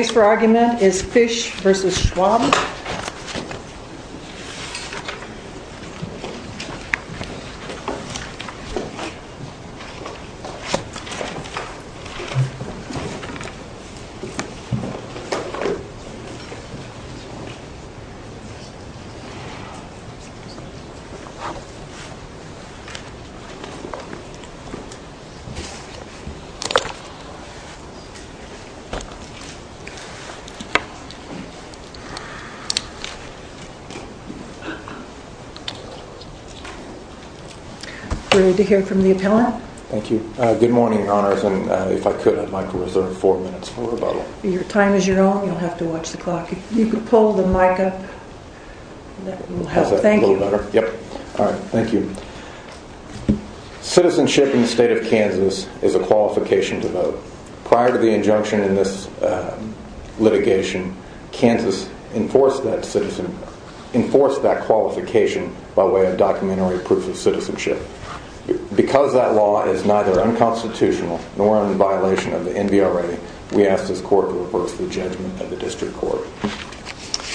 The case for argument is Fish v. Schwab. We're ready to hear from the appellant. Thank you. Good morning, your honors. And if I could, I'd like to reserve four minutes for rebuttal. Your time is your own. You'll have to watch the clock. If you could pull the mic up, that will help. Thank you. Citizenship in the state of Kansas is a qualification to vote. Prior to the injunction in this litigation, Kansas enforced that qualification by way of documentary proof of citizenship. Because that law is neither unconstitutional nor in violation of the NBRA, we ask this court to reverse the judgment at the district court.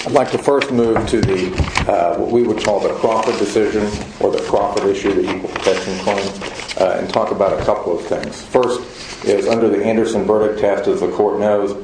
I'd like to first move to what we would call the Crawford decision or the Crawford issue, the equal protection claim, and talk about a couple of things. First is under the Anderson verdict test, as the court knows,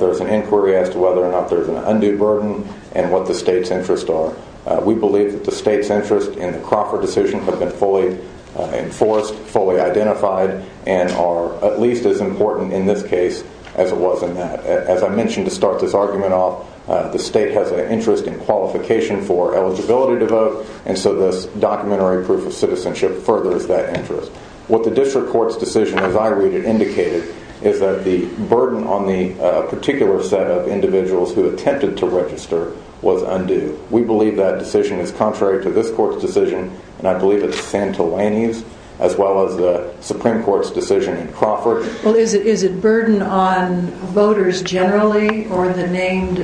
there's an inquiry as to whether or not there's an undue burden and what the state's interests are. We believe that the state's interest in the Crawford decision have been fully enforced, fully identified, and are at least as important in this case as it was in that. As I mentioned to start this argument off, the state has an interest in qualification for eligibility to vote, and so this documentary proof of citizenship furthers that interest. What the district court's decision, as I read it, indicated is that the burden on the particular set of individuals who attempted to register was undue. We believe that decision is contrary to this court's decision, and I believe it's Santelani's, as well as the Supreme Court's decision in Crawford. Well, is it burden on voters generally or the named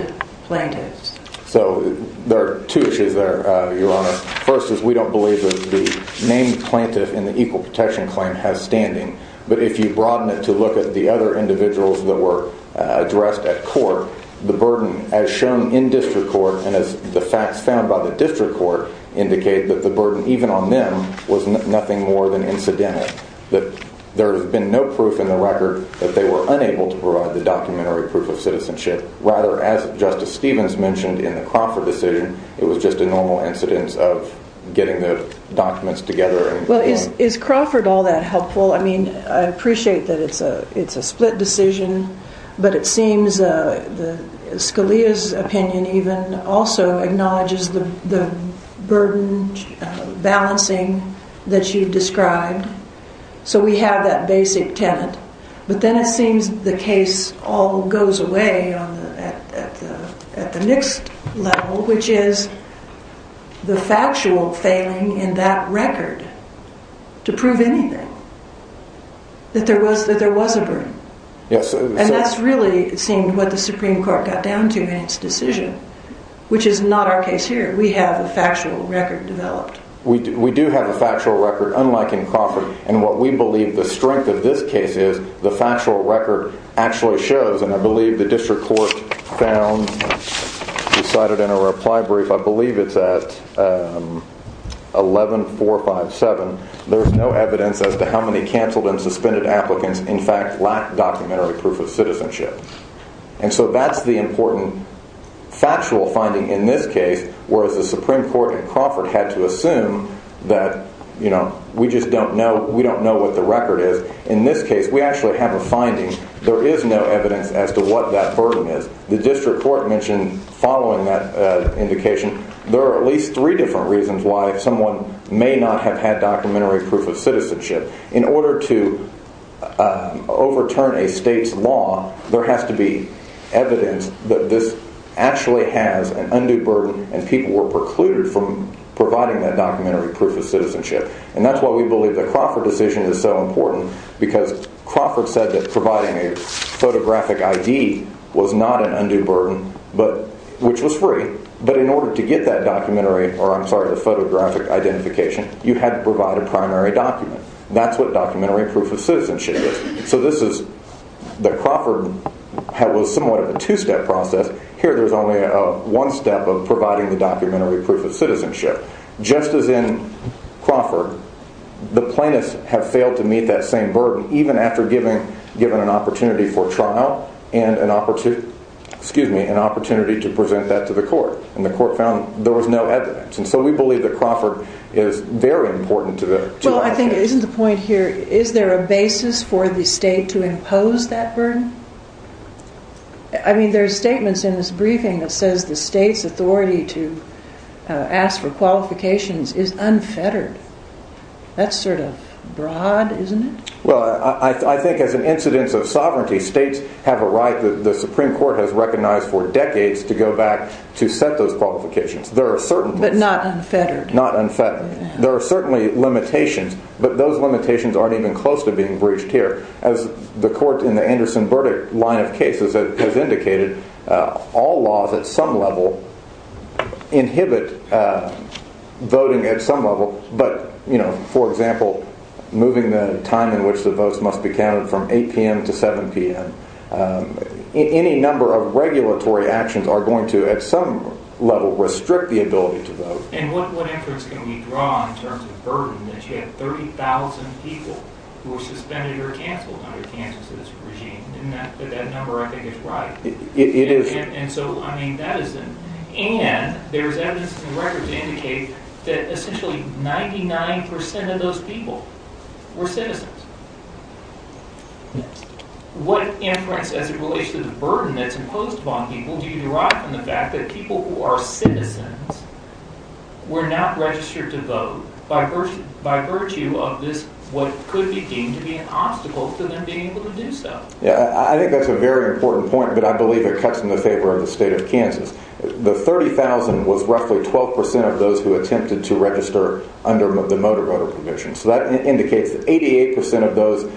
plaintiffs? So there are two issues there, Your Honor. First is we don't believe that the named plaintiff in the equal protection claim has standing, but if you broaden it to look at the other individuals that were addressed at court, the burden as shown in district court and as the facts found by the district court indicate that the burden even on them was nothing more than incidental, that there has been no proof in the record that they were unable to provide the documentary proof of citizenship. Rather, as Justice Stevens mentioned in the Crawford decision, it was just a normal incidence of getting the documents together. Well, is Crawford all that helpful? I mean, I appreciate that it's a split decision, but it seems Scalia's opinion even also acknowledges the burden balancing that you've described. So we have that basic tenet, but then it seems the case all goes away at the next level, which is the factual failing in that record to prove anything, that there was a burden. And that's really, it seemed, what the Supreme Court got down to in its decision, which is not our case here. We have a factual record developed. We do have a factual record, unlike in Crawford, and what we believe the strength of this case is, the factual record actually shows, and I believe the district court found, decided in a reply brief, I believe it's at 11457, there's no evidence as to how many canceled and suspended applicants in fact lacked documentary proof of citizenship. And so that's the important factual finding in this case, whereas the Supreme Court in Crawford had to assume that we just don't know what the record is. In this case, we actually have a finding. There is no evidence as to what that burden is. The district court mentioned following that indication, there are at least three different reasons why someone may not have had documentary proof of citizenship. In order to overturn a state's law, there has to be evidence that this actually has an undue burden, and people were precluded from providing that documentary proof of citizenship. And that's why we believe the Crawford decision is so important, because Crawford said that providing a photographic ID was not an undue burden, which was free. But in order to get that documentary, or I'm sorry, the photographic identification, you had to provide a primary document. That's what documentary proof of citizenship is. So this is, the Crawford was somewhat of a two-step process. Here there's only one step of providing the documentary proof of citizenship. Just as in Crawford, the plaintiffs have failed to meet that same burden, even after given an opportunity for trial and an opportunity to present that to the court. And the court found there was no evidence. And so we believe that Crawford is very important to that case. Well, I think isn't the point here, is there a basis for the state to impose that burden? I mean, there's statements in this briefing that says the state's authority to ask for qualifications is unfettered. That's sort of broad, isn't it? Well, I think as an incidence of sovereignty, states have a right, the Supreme Court has recognized for decades, to go back to set those qualifications. But not unfettered. Not unfettered. There are certainly limitations, but those limitations aren't even close to being breached here. As the court in the Anderson-Burdick line of cases has indicated, all laws at some level inhibit voting at some level. But, you know, for example, moving the time in which the votes must be counted from 8 p.m. to 7 p.m. Any number of regulatory actions are going to, at some level, restrict the ability to vote. And what inference can we draw in terms of burden, that you had 30,000 people who were suspended or canceled under Kansas' regime? Isn't that number, I think, is right? It is. And so, I mean, that is, and there's evidence in the records that indicate that essentially 99% of those people were citizens. What inference, as it relates to the burden that's imposed upon people, do you derive from the fact that people who are citizens were not registered to vote by virtue of this, what could be deemed to be an obstacle to them being able to do so? Yeah, I think that's a very important point, but I believe it cuts in the favor of the state of Kansas. The 30,000 was roughly 12% of those who attempted to register under the motor-voter provision. So that indicates that 88% of those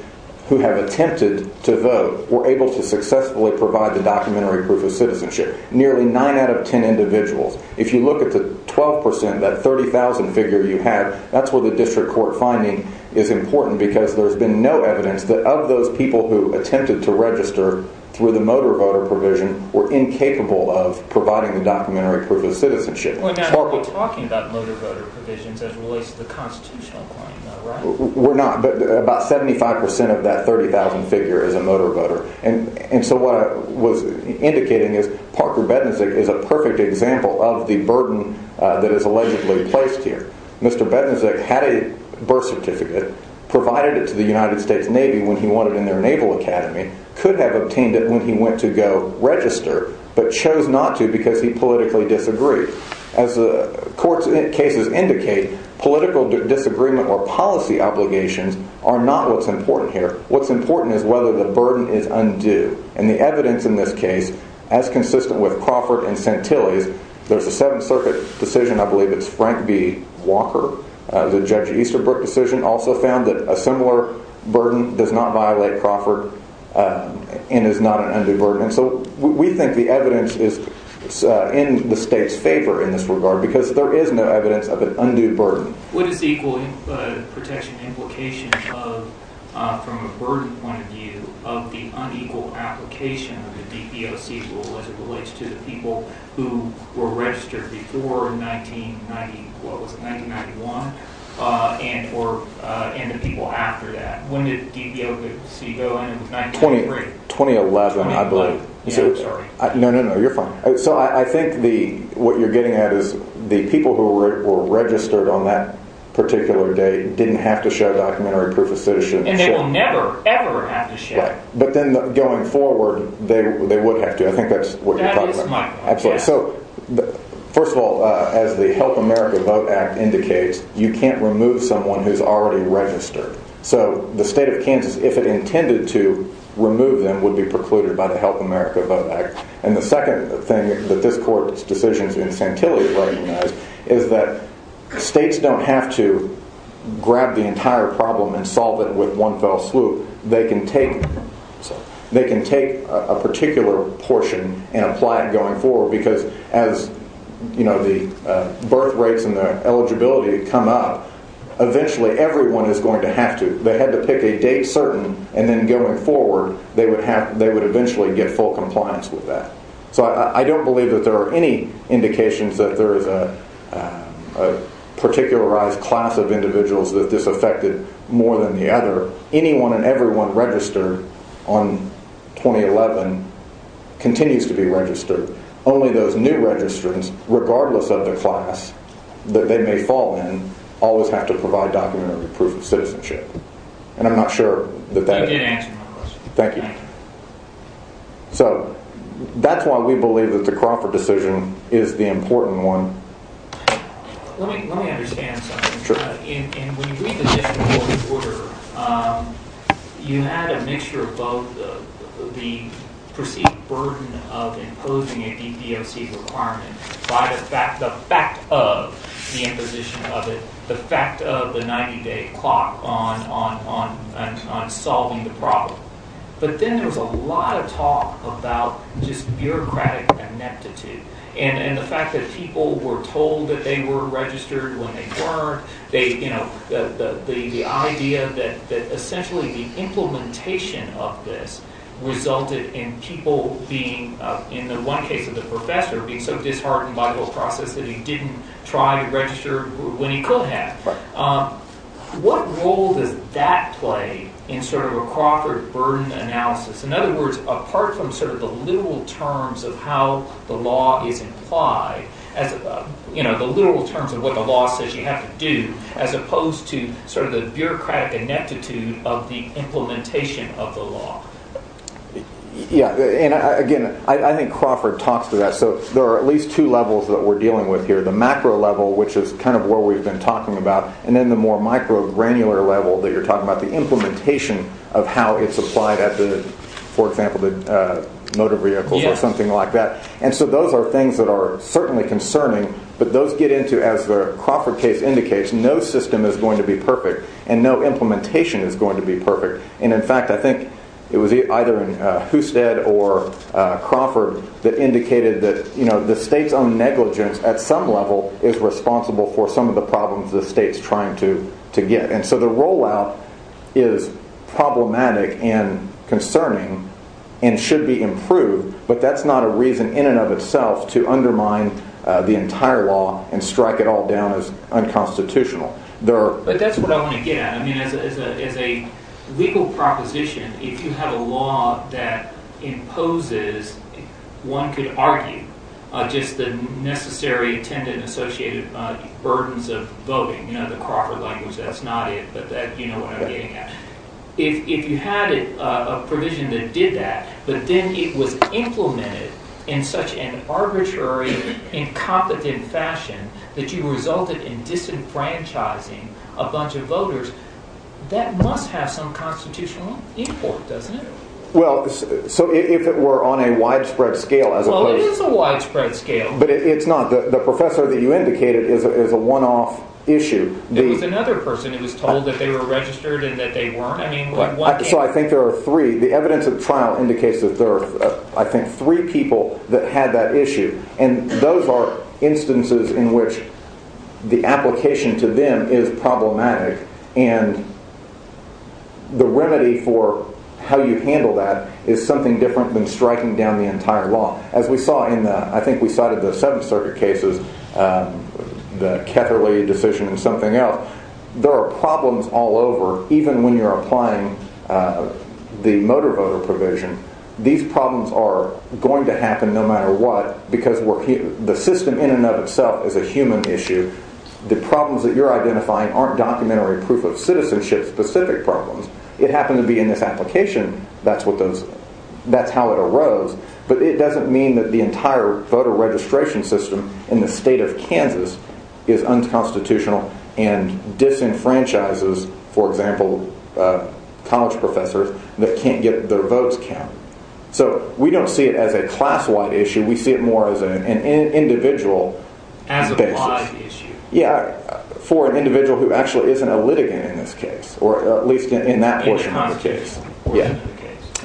who have attempted to vote were able to successfully provide the documentary proof of citizenship. Nearly 9 out of 10 individuals. If you look at the 12%, that 30,000 figure you had, that's where the district court finding is important because there's been no evidence that of those people who attempted to register through the motor-voter provision were incapable of providing the documentary proof of citizenship. You're talking about motor-voter provisions as it relates to the constitutional claim, am I right? We're not, but about 75% of that 30,000 figure is a motor-voter. And so what I was indicating is Parker Bednizik is a perfect example of the burden that is allegedly placed here. Mr. Bednizik had a birth certificate, provided it to the United States Navy when he wanted in their Naval Academy, could have obtained it when he went to go register, but chose not to because he politically disagreed. As the court's cases indicate, political disagreement or policy obligations are not what's important here. What's important is whether the burden is undue. And the evidence in this case, as consistent with Crawford and Santilli's, there's a Seventh Circuit decision, I believe it's Frank B. Walker, the Judge Easterbrook decision, also found that a similar burden does not violate Crawford and is not an undue burden. And so we think the evidence is in the state's favor in this regard because there is no evidence of an undue burden. What is the equal protection implication of, from a burden point of view, of the unequal application of the DBOC rule as it relates to the people who were registered before 1990, what was it, 1991? And the people after that. When did DBOC go in? 2011, I believe. Sorry. No, no, no, you're fine. So I think what you're getting at is the people who were registered on that particular date didn't have to show documentary proof of citizenship. And they will never, ever have to show. Right. But then going forward, they would have to. I think that's what you're talking about. That is my point. Absolutely. So first of all, as the Help America Vote Act indicates, you can't remove someone who's already registered. So the state of Kansas, if it intended to remove them, would be precluded by the Help America Vote Act. And the second thing that this court's decision to incentivize is that states don't have to grab the entire problem and solve it with one fell swoop. They can take a particular portion and apply it going forward. Because as the birth rates and the eligibility come up, eventually everyone is going to have to. They had to pick a date certain, and then going forward, they would eventually get full compliance with that. So I don't believe that there are any indications that there is a particularized class of individuals that this affected more than the other. Anyone and everyone registered on 2011 continues to be registered. Only those new registrants, regardless of the class that they may fall in, always have to provide documentary proof of citizenship. And I'm not sure. Thank you. So that's why we believe that the Crawford decision is the important one. Let me understand something. Sure. And when you read the Dictionary of the Border, you had a mixture of both the perceived burden of imposing a DPOC requirement by the fact of the imposition of it, the fact of the 90-day clock on solving the problem. But then there was a lot of talk about just bureaucratic ineptitude and the fact that people were told that they were registered when they weren't. The idea that essentially the implementation of this resulted in people being, in the one case of the professor, being so disheartened by the whole process that he didn't try to register when he could have. What role does that play in sort of a Crawford burden analysis? In other words, apart from sort of the literal terms of how the law is implied, the literal terms of what the law says you have to do, as opposed to sort of the bureaucratic ineptitude of the implementation of the law. Yeah. And again, I think Crawford talks to that. So there are at least two levels that we're dealing with here. The macro level, which is kind of what we've been talking about, and then the more micro granular level that you're talking about, the implementation of how it's applied at the, for example, the motor vehicles or something like that. And so those are things that are certainly concerning. But those get into, as the Crawford case indicates, no system is going to be perfect and no implementation is going to be perfect. And in fact, I think it was either Husted or Crawford that indicated that, you know, the state's own negligence at some level is responsible for some of the problems the state's trying to to get. And so the rollout is problematic and concerning and should be improved. But that's not a reason in and of itself to undermine the entire law and strike it all down as unconstitutional. But that's what I want to get at. I mean, as a legal proposition, if you have a law that imposes one could argue just the necessary attendant associated burdens of voting, you know, the Crawford language. That's not it. But that, you know, if you had a provision that did that, but then it was implemented in such an arbitrary, incompetent fashion that you resulted in disenfranchising a bunch of voters, that must have some constitutional import, doesn't it? Well, so if it were on a widespread scale, as well, it is a widespread scale, but it's not. The professor that you indicated is a one off issue. There was another person who was told that they were registered and that they weren't. So I think there are three. The evidence of the trial indicates that there are, I think, three people that had that issue. And those are instances in which the application to them is problematic. And the remedy for how you handle that is something different than striking down the entire law. As we saw in the I think we cited the Seventh Circuit cases, the Ketterle decision and something else. There are problems all over, even when you're applying the motor voter provision. These problems are going to happen no matter what, because the system in and of itself is a human issue. The problems that you're identifying aren't documentary proof of citizenship specific problems. It happened to be in this application. That's what those that's how it arose. But it doesn't mean that the entire voter registration system in the state of Kansas is unconstitutional and disenfranchises. For example, college professors that can't get their votes count. So we don't see it as a class wide issue. We see it more as an individual as a big issue. Yeah. For an individual who actually isn't a litigant in this case, or at least in that portion of the case.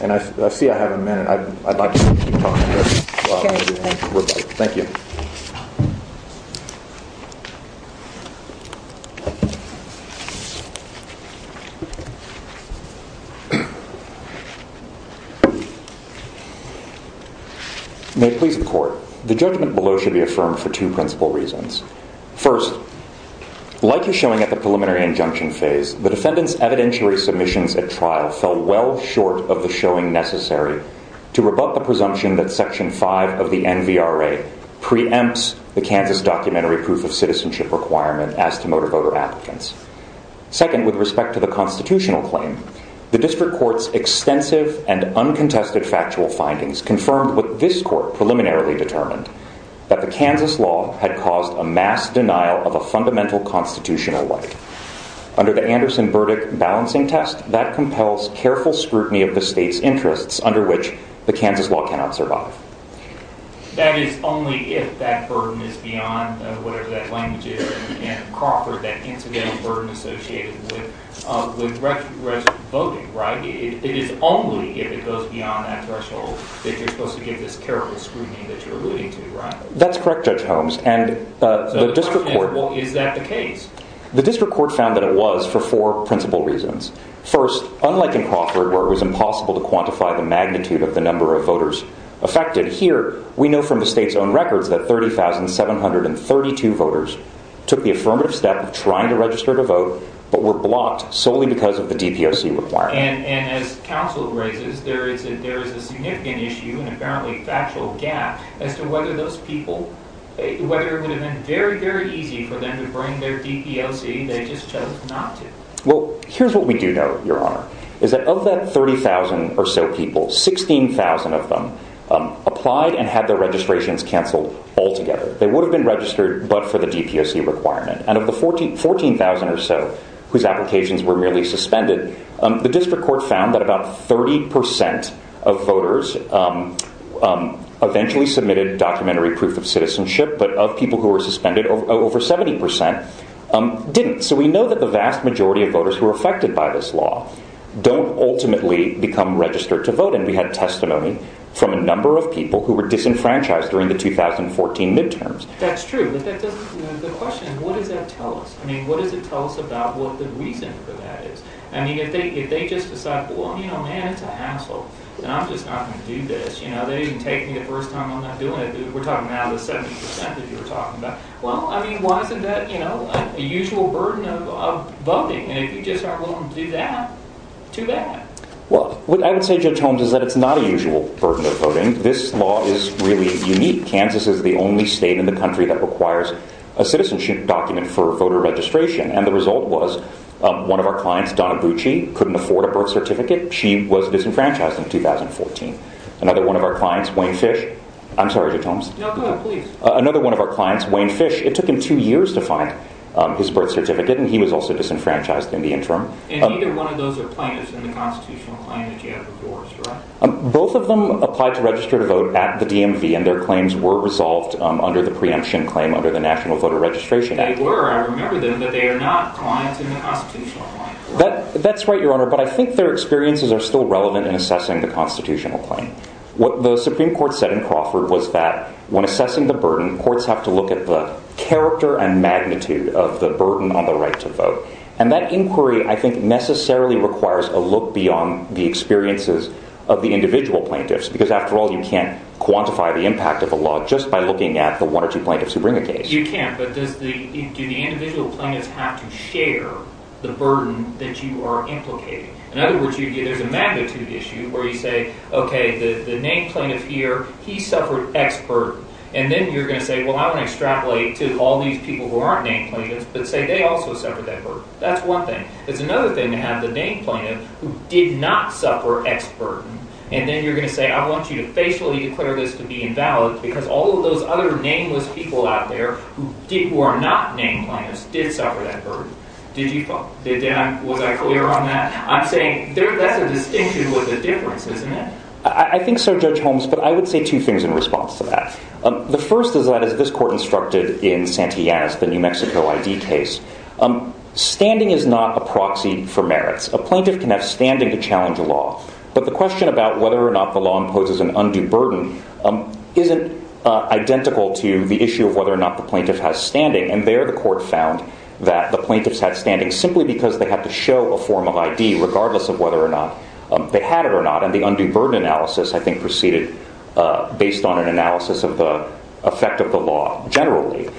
And I see I have a minute. I'd like to keep talking. Thank you. May it please the court. The judgment below should be affirmed for two principal reasons. First, like you're showing at the preliminary injunction phase, the defendant's evidentiary submissions at trial fell well short of the showing necessary to rebut the presumption that section five of the N.V.R.A. preempts the Kansas documentary proof of citizenship requirement as to motor voter applicants. Second, with respect to the constitutional claim, the district court's extensive and uncontested factual findings confirmed with this court preliminarily determined that the Kansas law had caused a mass denial of a fundamental constitutional right. Under the Anderson verdict balancing test that compels careful scrutiny of the state's interests under which the Kansas law cannot survive. That is only if that burden is beyond whatever that language is in Crawford, that incidental burden associated with voting. Right. It is only if it goes beyond that threshold that you're supposed to give this careful scrutiny that you're alluding to. Right. That's correct. Judge Holmes and the district court. Is that the case? The district court found that it was for four principal reasons. First, unlike in Crawford, where it was impossible to quantify the magnitude of the number of voters affected here, we know from the state's own records that 30,732 voters took the affirmative step of trying to register to vote, but were blocked solely because of the D.P.O.C. requirement. And as counsel raises, there is a there is a significant issue and apparently factual gap as to whether those people, whether it would have been very, very easy for them to bring their D.P.O.C. They just chose not to. Well, here's what we do know, Your Honor, is that of that 30,000 or so people, 16,000 of them applied and had their registrations canceled altogether. They would have been registered, but for the D.P.O.C. requirement and of the 14,000 or so whose applications were merely suspended. The district court found that about 30 percent of voters eventually submitted documentary proof of citizenship, but of people who were suspended over 70 percent didn't. So we know that the vast majority of voters who are affected by this law don't ultimately become registered to vote. And we had testimony from a number of people who were disenfranchised during the 2014 midterms. That's true. But the question is, what does that tell us? I mean, what does it tell us about what the reason for that is? I mean, if they if they just decide, well, you know, man, it's a hassle and I'm just not going to do this. You know, they didn't take me the first time. I'm not doing it. We're talking out of the 70 percent that you were talking about. Well, I mean, why isn't that, you know, a usual burden of voting? And if you just aren't willing to do that, too bad. Well, what I would say, Judge Holmes, is that it's not a usual burden of voting. This law is really unique. Kansas is the only state in the country that requires a citizenship document for voter registration. And the result was one of our clients, Donna Bucci, couldn't afford a birth certificate. She was disenfranchised in 2014. Another one of our clients, Wayne Fish. I'm sorry, Judge Holmes. Another one of our clients, Wayne Fish. It took him two years to find his birth certificate. And he was also disenfranchised in the interim. And either one of those are plaintiffs in the constitutional claim that you have divorced, right? Both of them applied to register to vote at the DMV and their claims were resolved under the preemption claim under the National Voter Registration Act. They were, I remember them, but they are not clients in the constitutional claim. That's right, Your Honor. But I think their experiences are still relevant in assessing the constitutional claim. What the Supreme Court said in Crawford was that when assessing the burden, courts have to look at the character and magnitude of the burden on the right to vote. And that inquiry, I think, necessarily requires a look beyond the experiences of the individual plaintiffs. Because, after all, you can't quantify the impact of a law just by looking at the one or two plaintiffs who bring a case. You can't. But do the individual plaintiffs have to share the burden that you are implicating? In other words, there's a magnitude issue where you say, OK, the named plaintiff here, he suffered X burden. And then you're going to say, well, I want to extrapolate to all these people who aren't named plaintiffs but say they also suffered that burden. That's one thing. It's another thing to have the named plaintiff who did not suffer X burden. And then you're going to say, I want you to facially declare this to be invalid because all of those other nameless people out there who are not named plaintiffs did suffer that burden. Did you? Was I clear on that? I'm saying that's a distinction with a difference, isn't it? I think so, Judge Holmes. But I would say two things in response to that. The first is that, as this court instructed in Santillanes, the New Mexico ID case, standing is not a proxy for merits. A plaintiff can have standing to challenge a law. But the question about whether or not the law imposes an undue burden isn't identical to the issue of whether or not the plaintiff has standing. And there, the court found that the plaintiffs had standing simply because they had to show a form of ID, regardless of whether or not they had it or not. And the undue burden analysis, I think, proceeded based on an analysis of the effect of the law generally.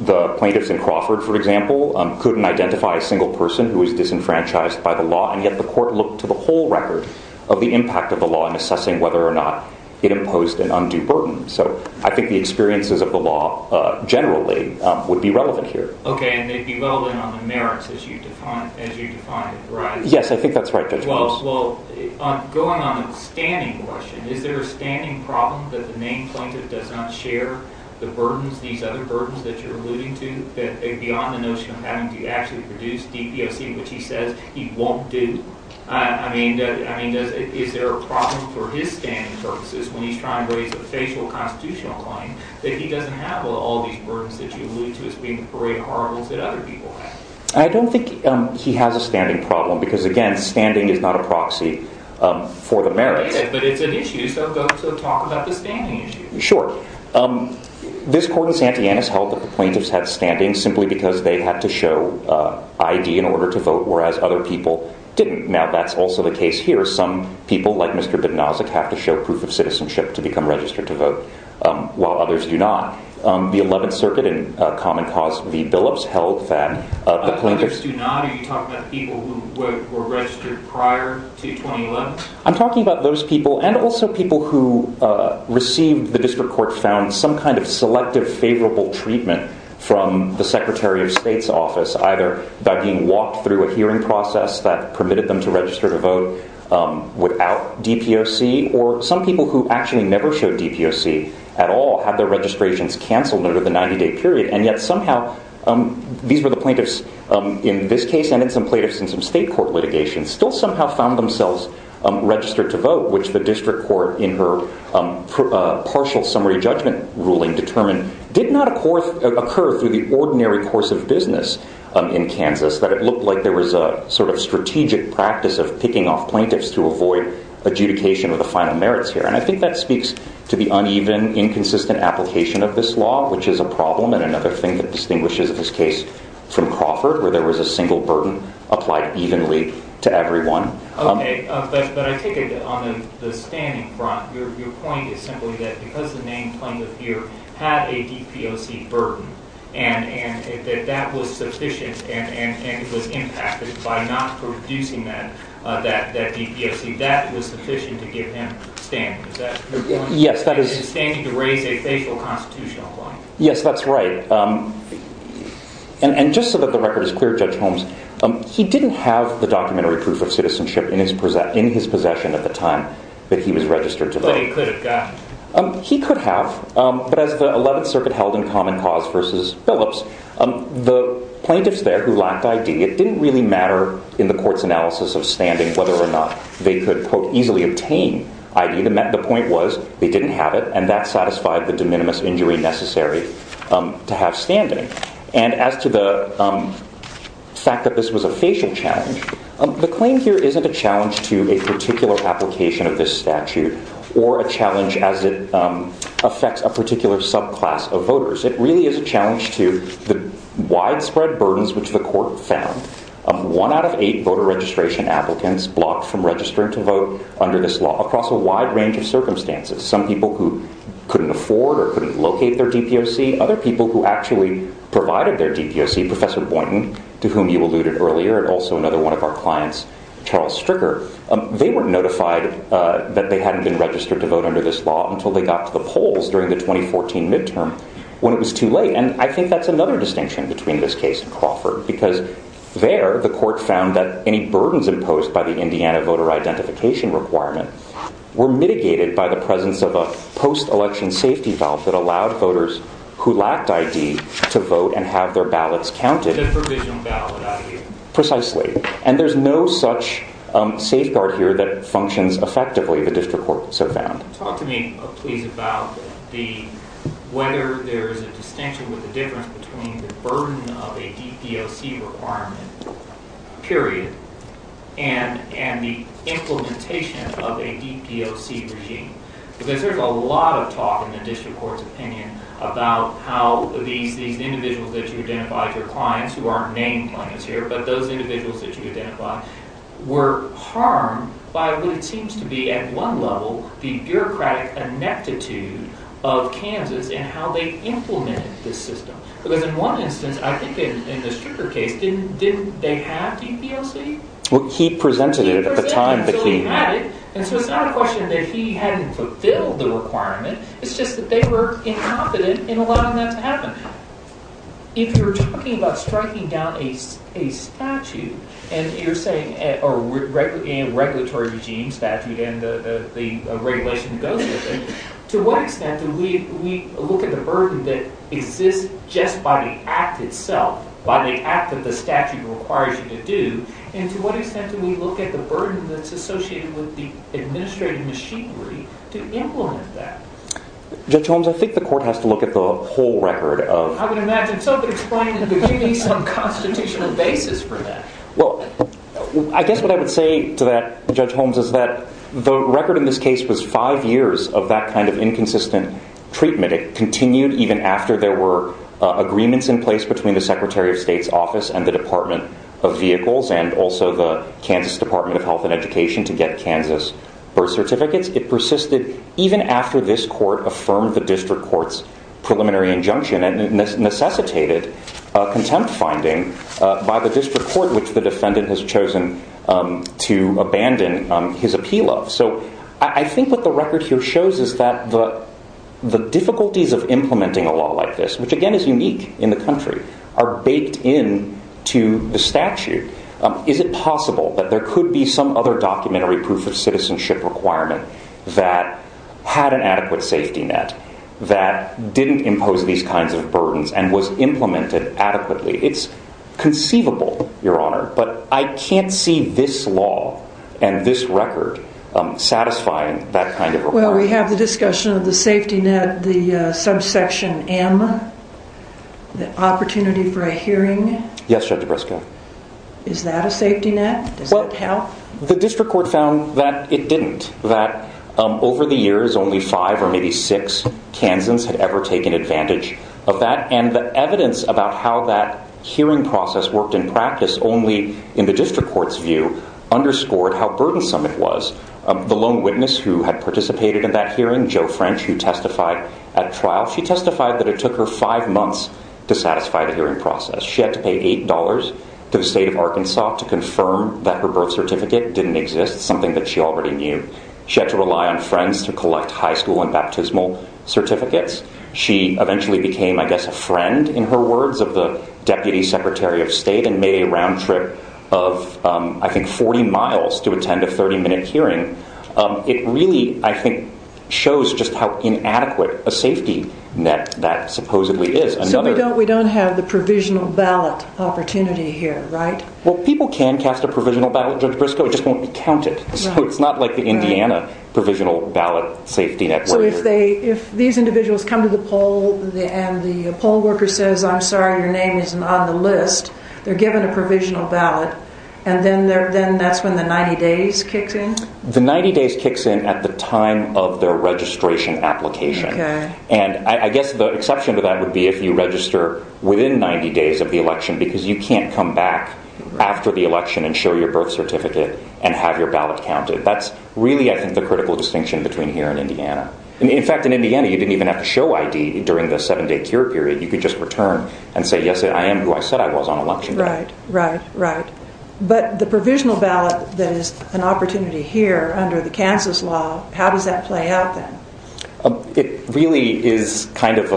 The plaintiffs in Crawford, for example, couldn't identify a single person who was disenfranchised by the law. And yet the court looked to the whole record of the impact of the law in assessing whether or not it imposed an undue burden. So I think the experiences of the law generally would be relevant here. OK. And they'd be relevant on the merits as you define it, right? Yes, I think that's right, Judge Holmes. Well, going on the standing question, is there a standing problem that the main plaintiff does not share the burdens, these other burdens that you're alluding to, beyond the notion of having to actually produce DPOC, which he says he won't do? I mean, is there a problem for his standing purposes when he's trying to raise a facial constitutional claim that he doesn't have all these burdens that you allude to as being the parade of horribles that other people have? I don't think he has a standing problem because, again, standing is not a proxy for the merits. But it's an issue, so go to talk about the standing issue. Sure. This court in Santianus held that the plaintiffs had standing simply because they had to show ID in order to vote, whereas other people didn't. Now, that's also the case here. Some people, like Mr. Bipnozik, have to show proof of citizenship to become registered to vote, while others do not. The 11th Circuit in Common Cause v. Billups held that the plaintiffs— Other plaintiffs do not? Are you talking about people who were registered prior to 2011? I'm talking about those people and also people who received, the district court found, some kind of selective favorable treatment from the Secretary of State's office, either by being walked through a hearing process that permitted them to register to vote without DPOC, or some people who actually never showed DPOC at all had their registrations canceled under the 90-day period. And yet, somehow, these were the plaintiffs in this case and in some plaintiffs in some state court litigation, still somehow found themselves registered to vote, which the district court, in her partial summary judgment ruling, determined did not occur through the ordinary course of business. In Kansas, it looked like there was a sort of strategic practice of picking off plaintiffs to avoid adjudication of the final merits here. And I think that speaks to the uneven, inconsistent application of this law, which is a problem, and another thing that distinguishes this case from Crawford, where there was a single burden applied evenly to everyone. Okay, but I take it that on the standing front, your point is simply that because the main plaintiff here had a DPOC burden, and that that was sufficient and it was impacted by not producing that DPOC, that was sufficient to give him standing. Yes, that is… Is he standing to raise a facial constitutional claim? Yes, that's right. And just so that the record is clear, Judge Holmes, he didn't have the documentary proof of citizenship in his possession at the time that he was registered to vote. But he could have gotten it? He could have, but as the 11th Circuit held in Common Cause versus Phillips, the plaintiffs there who lacked ID, it didn't really matter in the court's analysis of standing whether or not they could, quote, easily obtain ID. The point was they didn't have it, and that satisfied the de minimis injury necessary to have standing. And as to the fact that this was a facial challenge, the claim here isn't a challenge to a particular application of this statute or a challenge as it affects a particular subclass of voters. It really is a challenge to the widespread burdens which the court found. One out of eight voter registration applicants blocked from registering to vote under this law across a wide range of circumstances. Some people who couldn't afford or couldn't locate their DPOC. Other people who actually provided their DPOC, Professor Boynton, to whom you alluded earlier, and also another one of our clients, Charles Stricker, they weren't notified that they hadn't been registered to vote under this law until they got to the polls during the 2014 midterm when it was too late. And I think that's another distinction between this case and Crawford, because there the court found that any burdens imposed by the Indiana voter identification requirement were mitigated by the presence of a post-election safety valve that allowed voters who lacked ID to vote and have their ballots counted. The provisional ballot ID. Precisely. And there's no such safeguard here that functions effectively, the district courts have found. Talk to me, please, about whether there's a distinction or a difference between the burden of a DPOC requirement, period, and the implementation of a DPOC regime. Because there's a lot of talk in the district court's opinion about how these individuals that you identified, your clients who aren't named clients here, but those individuals that you identified, were harmed by what seems to be, at one level, the bureaucratic ineptitude of Kansas in how they implemented this system. Because in one instance, I think in the Stricker case, didn't they have DPOC? Well, he presented it at the time, but he... He presented it until he had it, and so it's not a question that he hadn't fulfilled the requirement, it's just that they were incompetent in allowing that to happen. If you're talking about striking down a statute, and you're saying a regulatory regime statute, and the regulation that goes with it, to what extent do we look at the burden that exists just by the act itself, by the act that the statute requires you to do, and to what extent do we look at the burden that's associated with the administrative machinery to implement that? Judge Holmes, I think the court has to look at the whole record of... I would imagine somebody's trying to give me some constitutional basis for that. Well, I guess what I would say to that, Judge Holmes, is that the record in this case was five years of that kind of inconsistent treatment. It continued even after there were agreements in place between the Secretary of State's office and the Department of Vehicles, and also the Kansas Department of Health and Education to get Kansas birth certificates. It persisted even after this court affirmed the district court's preliminary injunction and necessitated contempt finding by the district court, which the defendant has chosen to abandon his appeal of. So I think what the record here shows is that the difficulties of implementing a law like this, which again is unique in the country, are baked into the statute. Is it possible that there could be some other documentary proof of citizenship requirement that had an adequate safety net, that didn't impose these kinds of burdens and was implemented adequately? It's conceivable, Your Honor, but I can't see this law and this record satisfying that kind of requirement. Well, we have the discussion of the safety net, the subsection M, the opportunity for a hearing. Yes, Judge Briscoe. Is that a safety net? Well, the district court found that it didn't, that over the years only five or maybe six Kansans had ever taken advantage of that, and the evidence about how that hearing process worked in practice only in the district court's view underscored how burdensome it was. The lone witness who had participated in that hearing, Jo French, who testified at trial, she testified that it took her five months to satisfy the hearing process. She had to pay $8 to the state of Arkansas to confirm that her birth certificate didn't exist, something that she already knew. She had to rely on friends to collect high school and baptismal certificates. She eventually became, I guess, a friend, in her words, of the deputy secretary of state and made a round trip of, I think, 40 miles to attend a 30-minute hearing. It really, I think, shows just how inadequate a safety net that supposedly is. So we don't have the provisional ballot opportunity here, right? Well, people can cast a provisional ballot, Judge Briscoe, it just won't be counted. So it's not like the Indiana provisional ballot safety network. So if these individuals come to the poll and the poll worker says, I'm sorry, your name isn't on the list, they're given a provisional ballot, and then that's when the 90 days kicks in? The 90 days kicks in at the time of their registration application. And I guess the exception to that would be if you register within 90 days of the election because you can't come back after the election and show your birth certificate and have your ballot counted. That's really, I think, the critical distinction between here and Indiana. In fact, in Indiana, you didn't even have to show ID during the seven-day cure period. You could just return and say, yes, I am who I said I was on election day. Right, right, right. But the provisional ballot that is an opportunity here under the Kansas law, how does that play out then? It really is kind of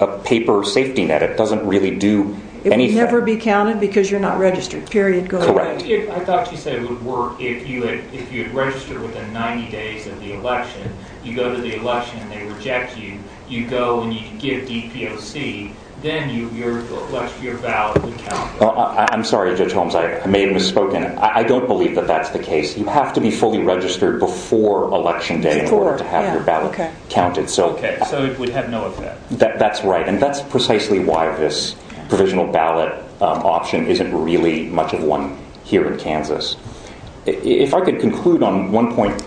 a paper safety net. It doesn't really do anything. It would never be counted because you're not registered, period. Correct. I thought you said it would work if you had registered within 90 days of the election. You go to the election and they reject you. You go and you can get a DPOC. Then your ballot would count. I'm sorry, Judge Holmes. I may have misspoken. I don't believe that that's the case. You have to be fully registered before election day in order to have your ballot counted. So it would have no effect. That's right. And that's precisely why this provisional ballot option isn't really much of one here in Kansas. If I could conclude on one point,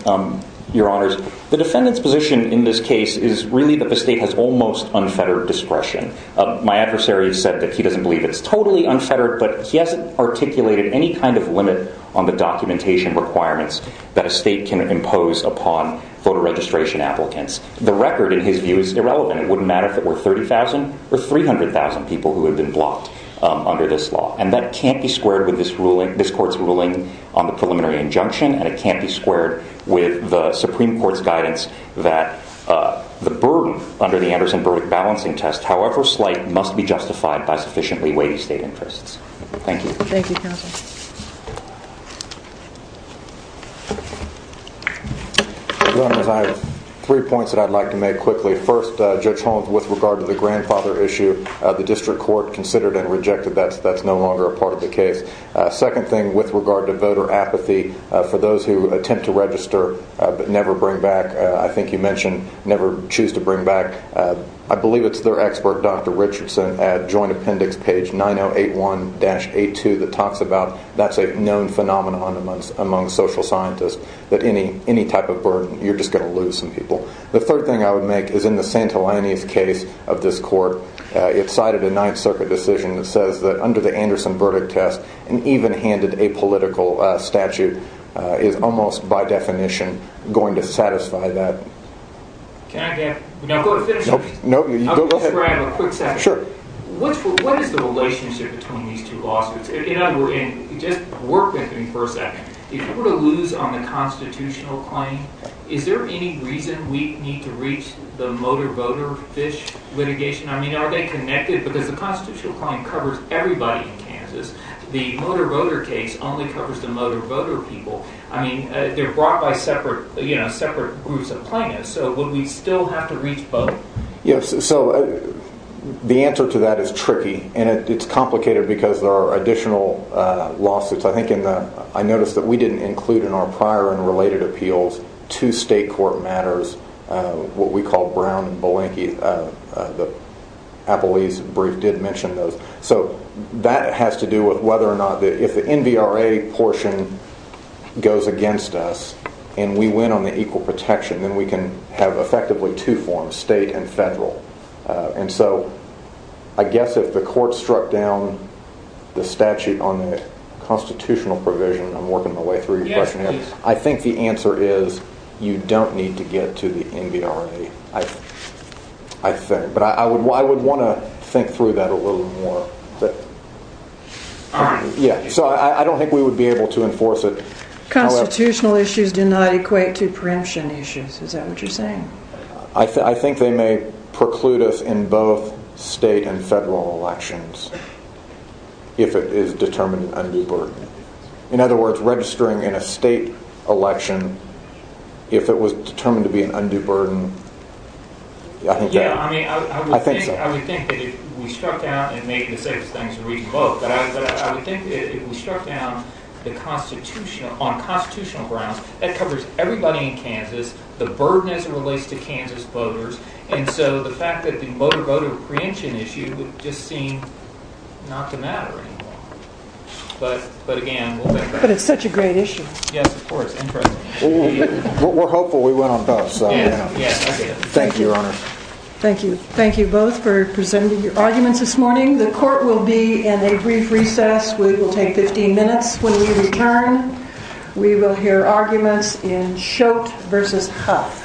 Your Honors. The defendant's position in this case is really that the state has almost unfettered discretion. My adversary has said that he doesn't believe it's totally unfettered, but he hasn't articulated any kind of limit on the documentation requirements that a state can impose upon voter registration applicants. The record, in his view, is irrelevant. It wouldn't matter if it were 30,000 or 300,000 people who had been blocked under this law. And that can't be squared with this court's ruling on the preliminary injunction, and it can't be squared with the Supreme Court's guidance that the burden under the Anderson-Burdick balancing test, however slight, must be justified by sufficiently weighty state interests. Thank you. Thank you, Counsel. Your Honors, I have three points that I'd like to make quickly. First, Judge Holmes, with regard to the grandfather issue, the district court considered and rejected that. That's no longer a part of the case. Second thing, with regard to voter apathy, for those who attempt to register but never bring back, I think you mentioned never choose to bring back, I believe it's their expert, Dr. Richardson, at Joint Appendix page 9081-82 that talks about that's a known phenomenon among social scientists, that any type of burden, you're just going to lose some people. The third thing I would make is in the Santellanis case of this court, it cited a Ninth Circuit decision that says that under the Anderson-Burdick test, an even-handed apolitical statute is almost by definition going to satisfy that. Can I add to that? No, go ahead. I'll just grab a quick second. Sure. What is the relationship between these two lawsuits? In other words, just work with me for a second. If we're to lose on the constitutional claim, is there any reason we need to reach the motor voter fish litigation? Are they connected? Because the constitutional claim covers everybody in Kansas. The motor voter case only covers the motor voter people. They're brought by separate groups of plaintiffs, so would we still have to reach both? The answer to that is tricky, and it's complicated because there are additional lawsuits. I noticed that we didn't include in our prior and related appeals two state court matters, what we call Brown-Belenky. The Appellee's brief did mention those. So that has to do with whether or not if the NVRA portion goes against us and we win on the equal protection, then we can have effectively two forms, state and federal. And so I guess if the court struck down the statute on the constitutional provision, I'm working my way through your question here, I think the answer is you don't need to get to the NVRA, I think. But I would want to think through that a little more. So I don't think we would be able to enforce it. Constitutional issues do not equate to preemption issues, is that what you're saying? I think they may preclude us in both state and federal elections if it is determined a new burden. In other words, registering in a state election, if it was determined to be an undue burden, I think so. Yeah, I mean, I would think that if we struck down, and maybe the safest thing is to read the book, but I would think that if we struck down on constitutional grounds, that covers everybody in Kansas, the burden as it relates to Kansas voters, and so the fact that the voter-voter preemption issue would just seem not to matter anymore. But again, we'll get back to that. But it's such a great issue. Yes, of course. We're hopeful we went on both, so. Yeah, yeah. Thank you, Your Honor. Thank you. Thank you both for presenting your arguments this morning. The court will be in a brief recess. We will take 15 minutes when we return. We will hear arguments in Schott v. Huff.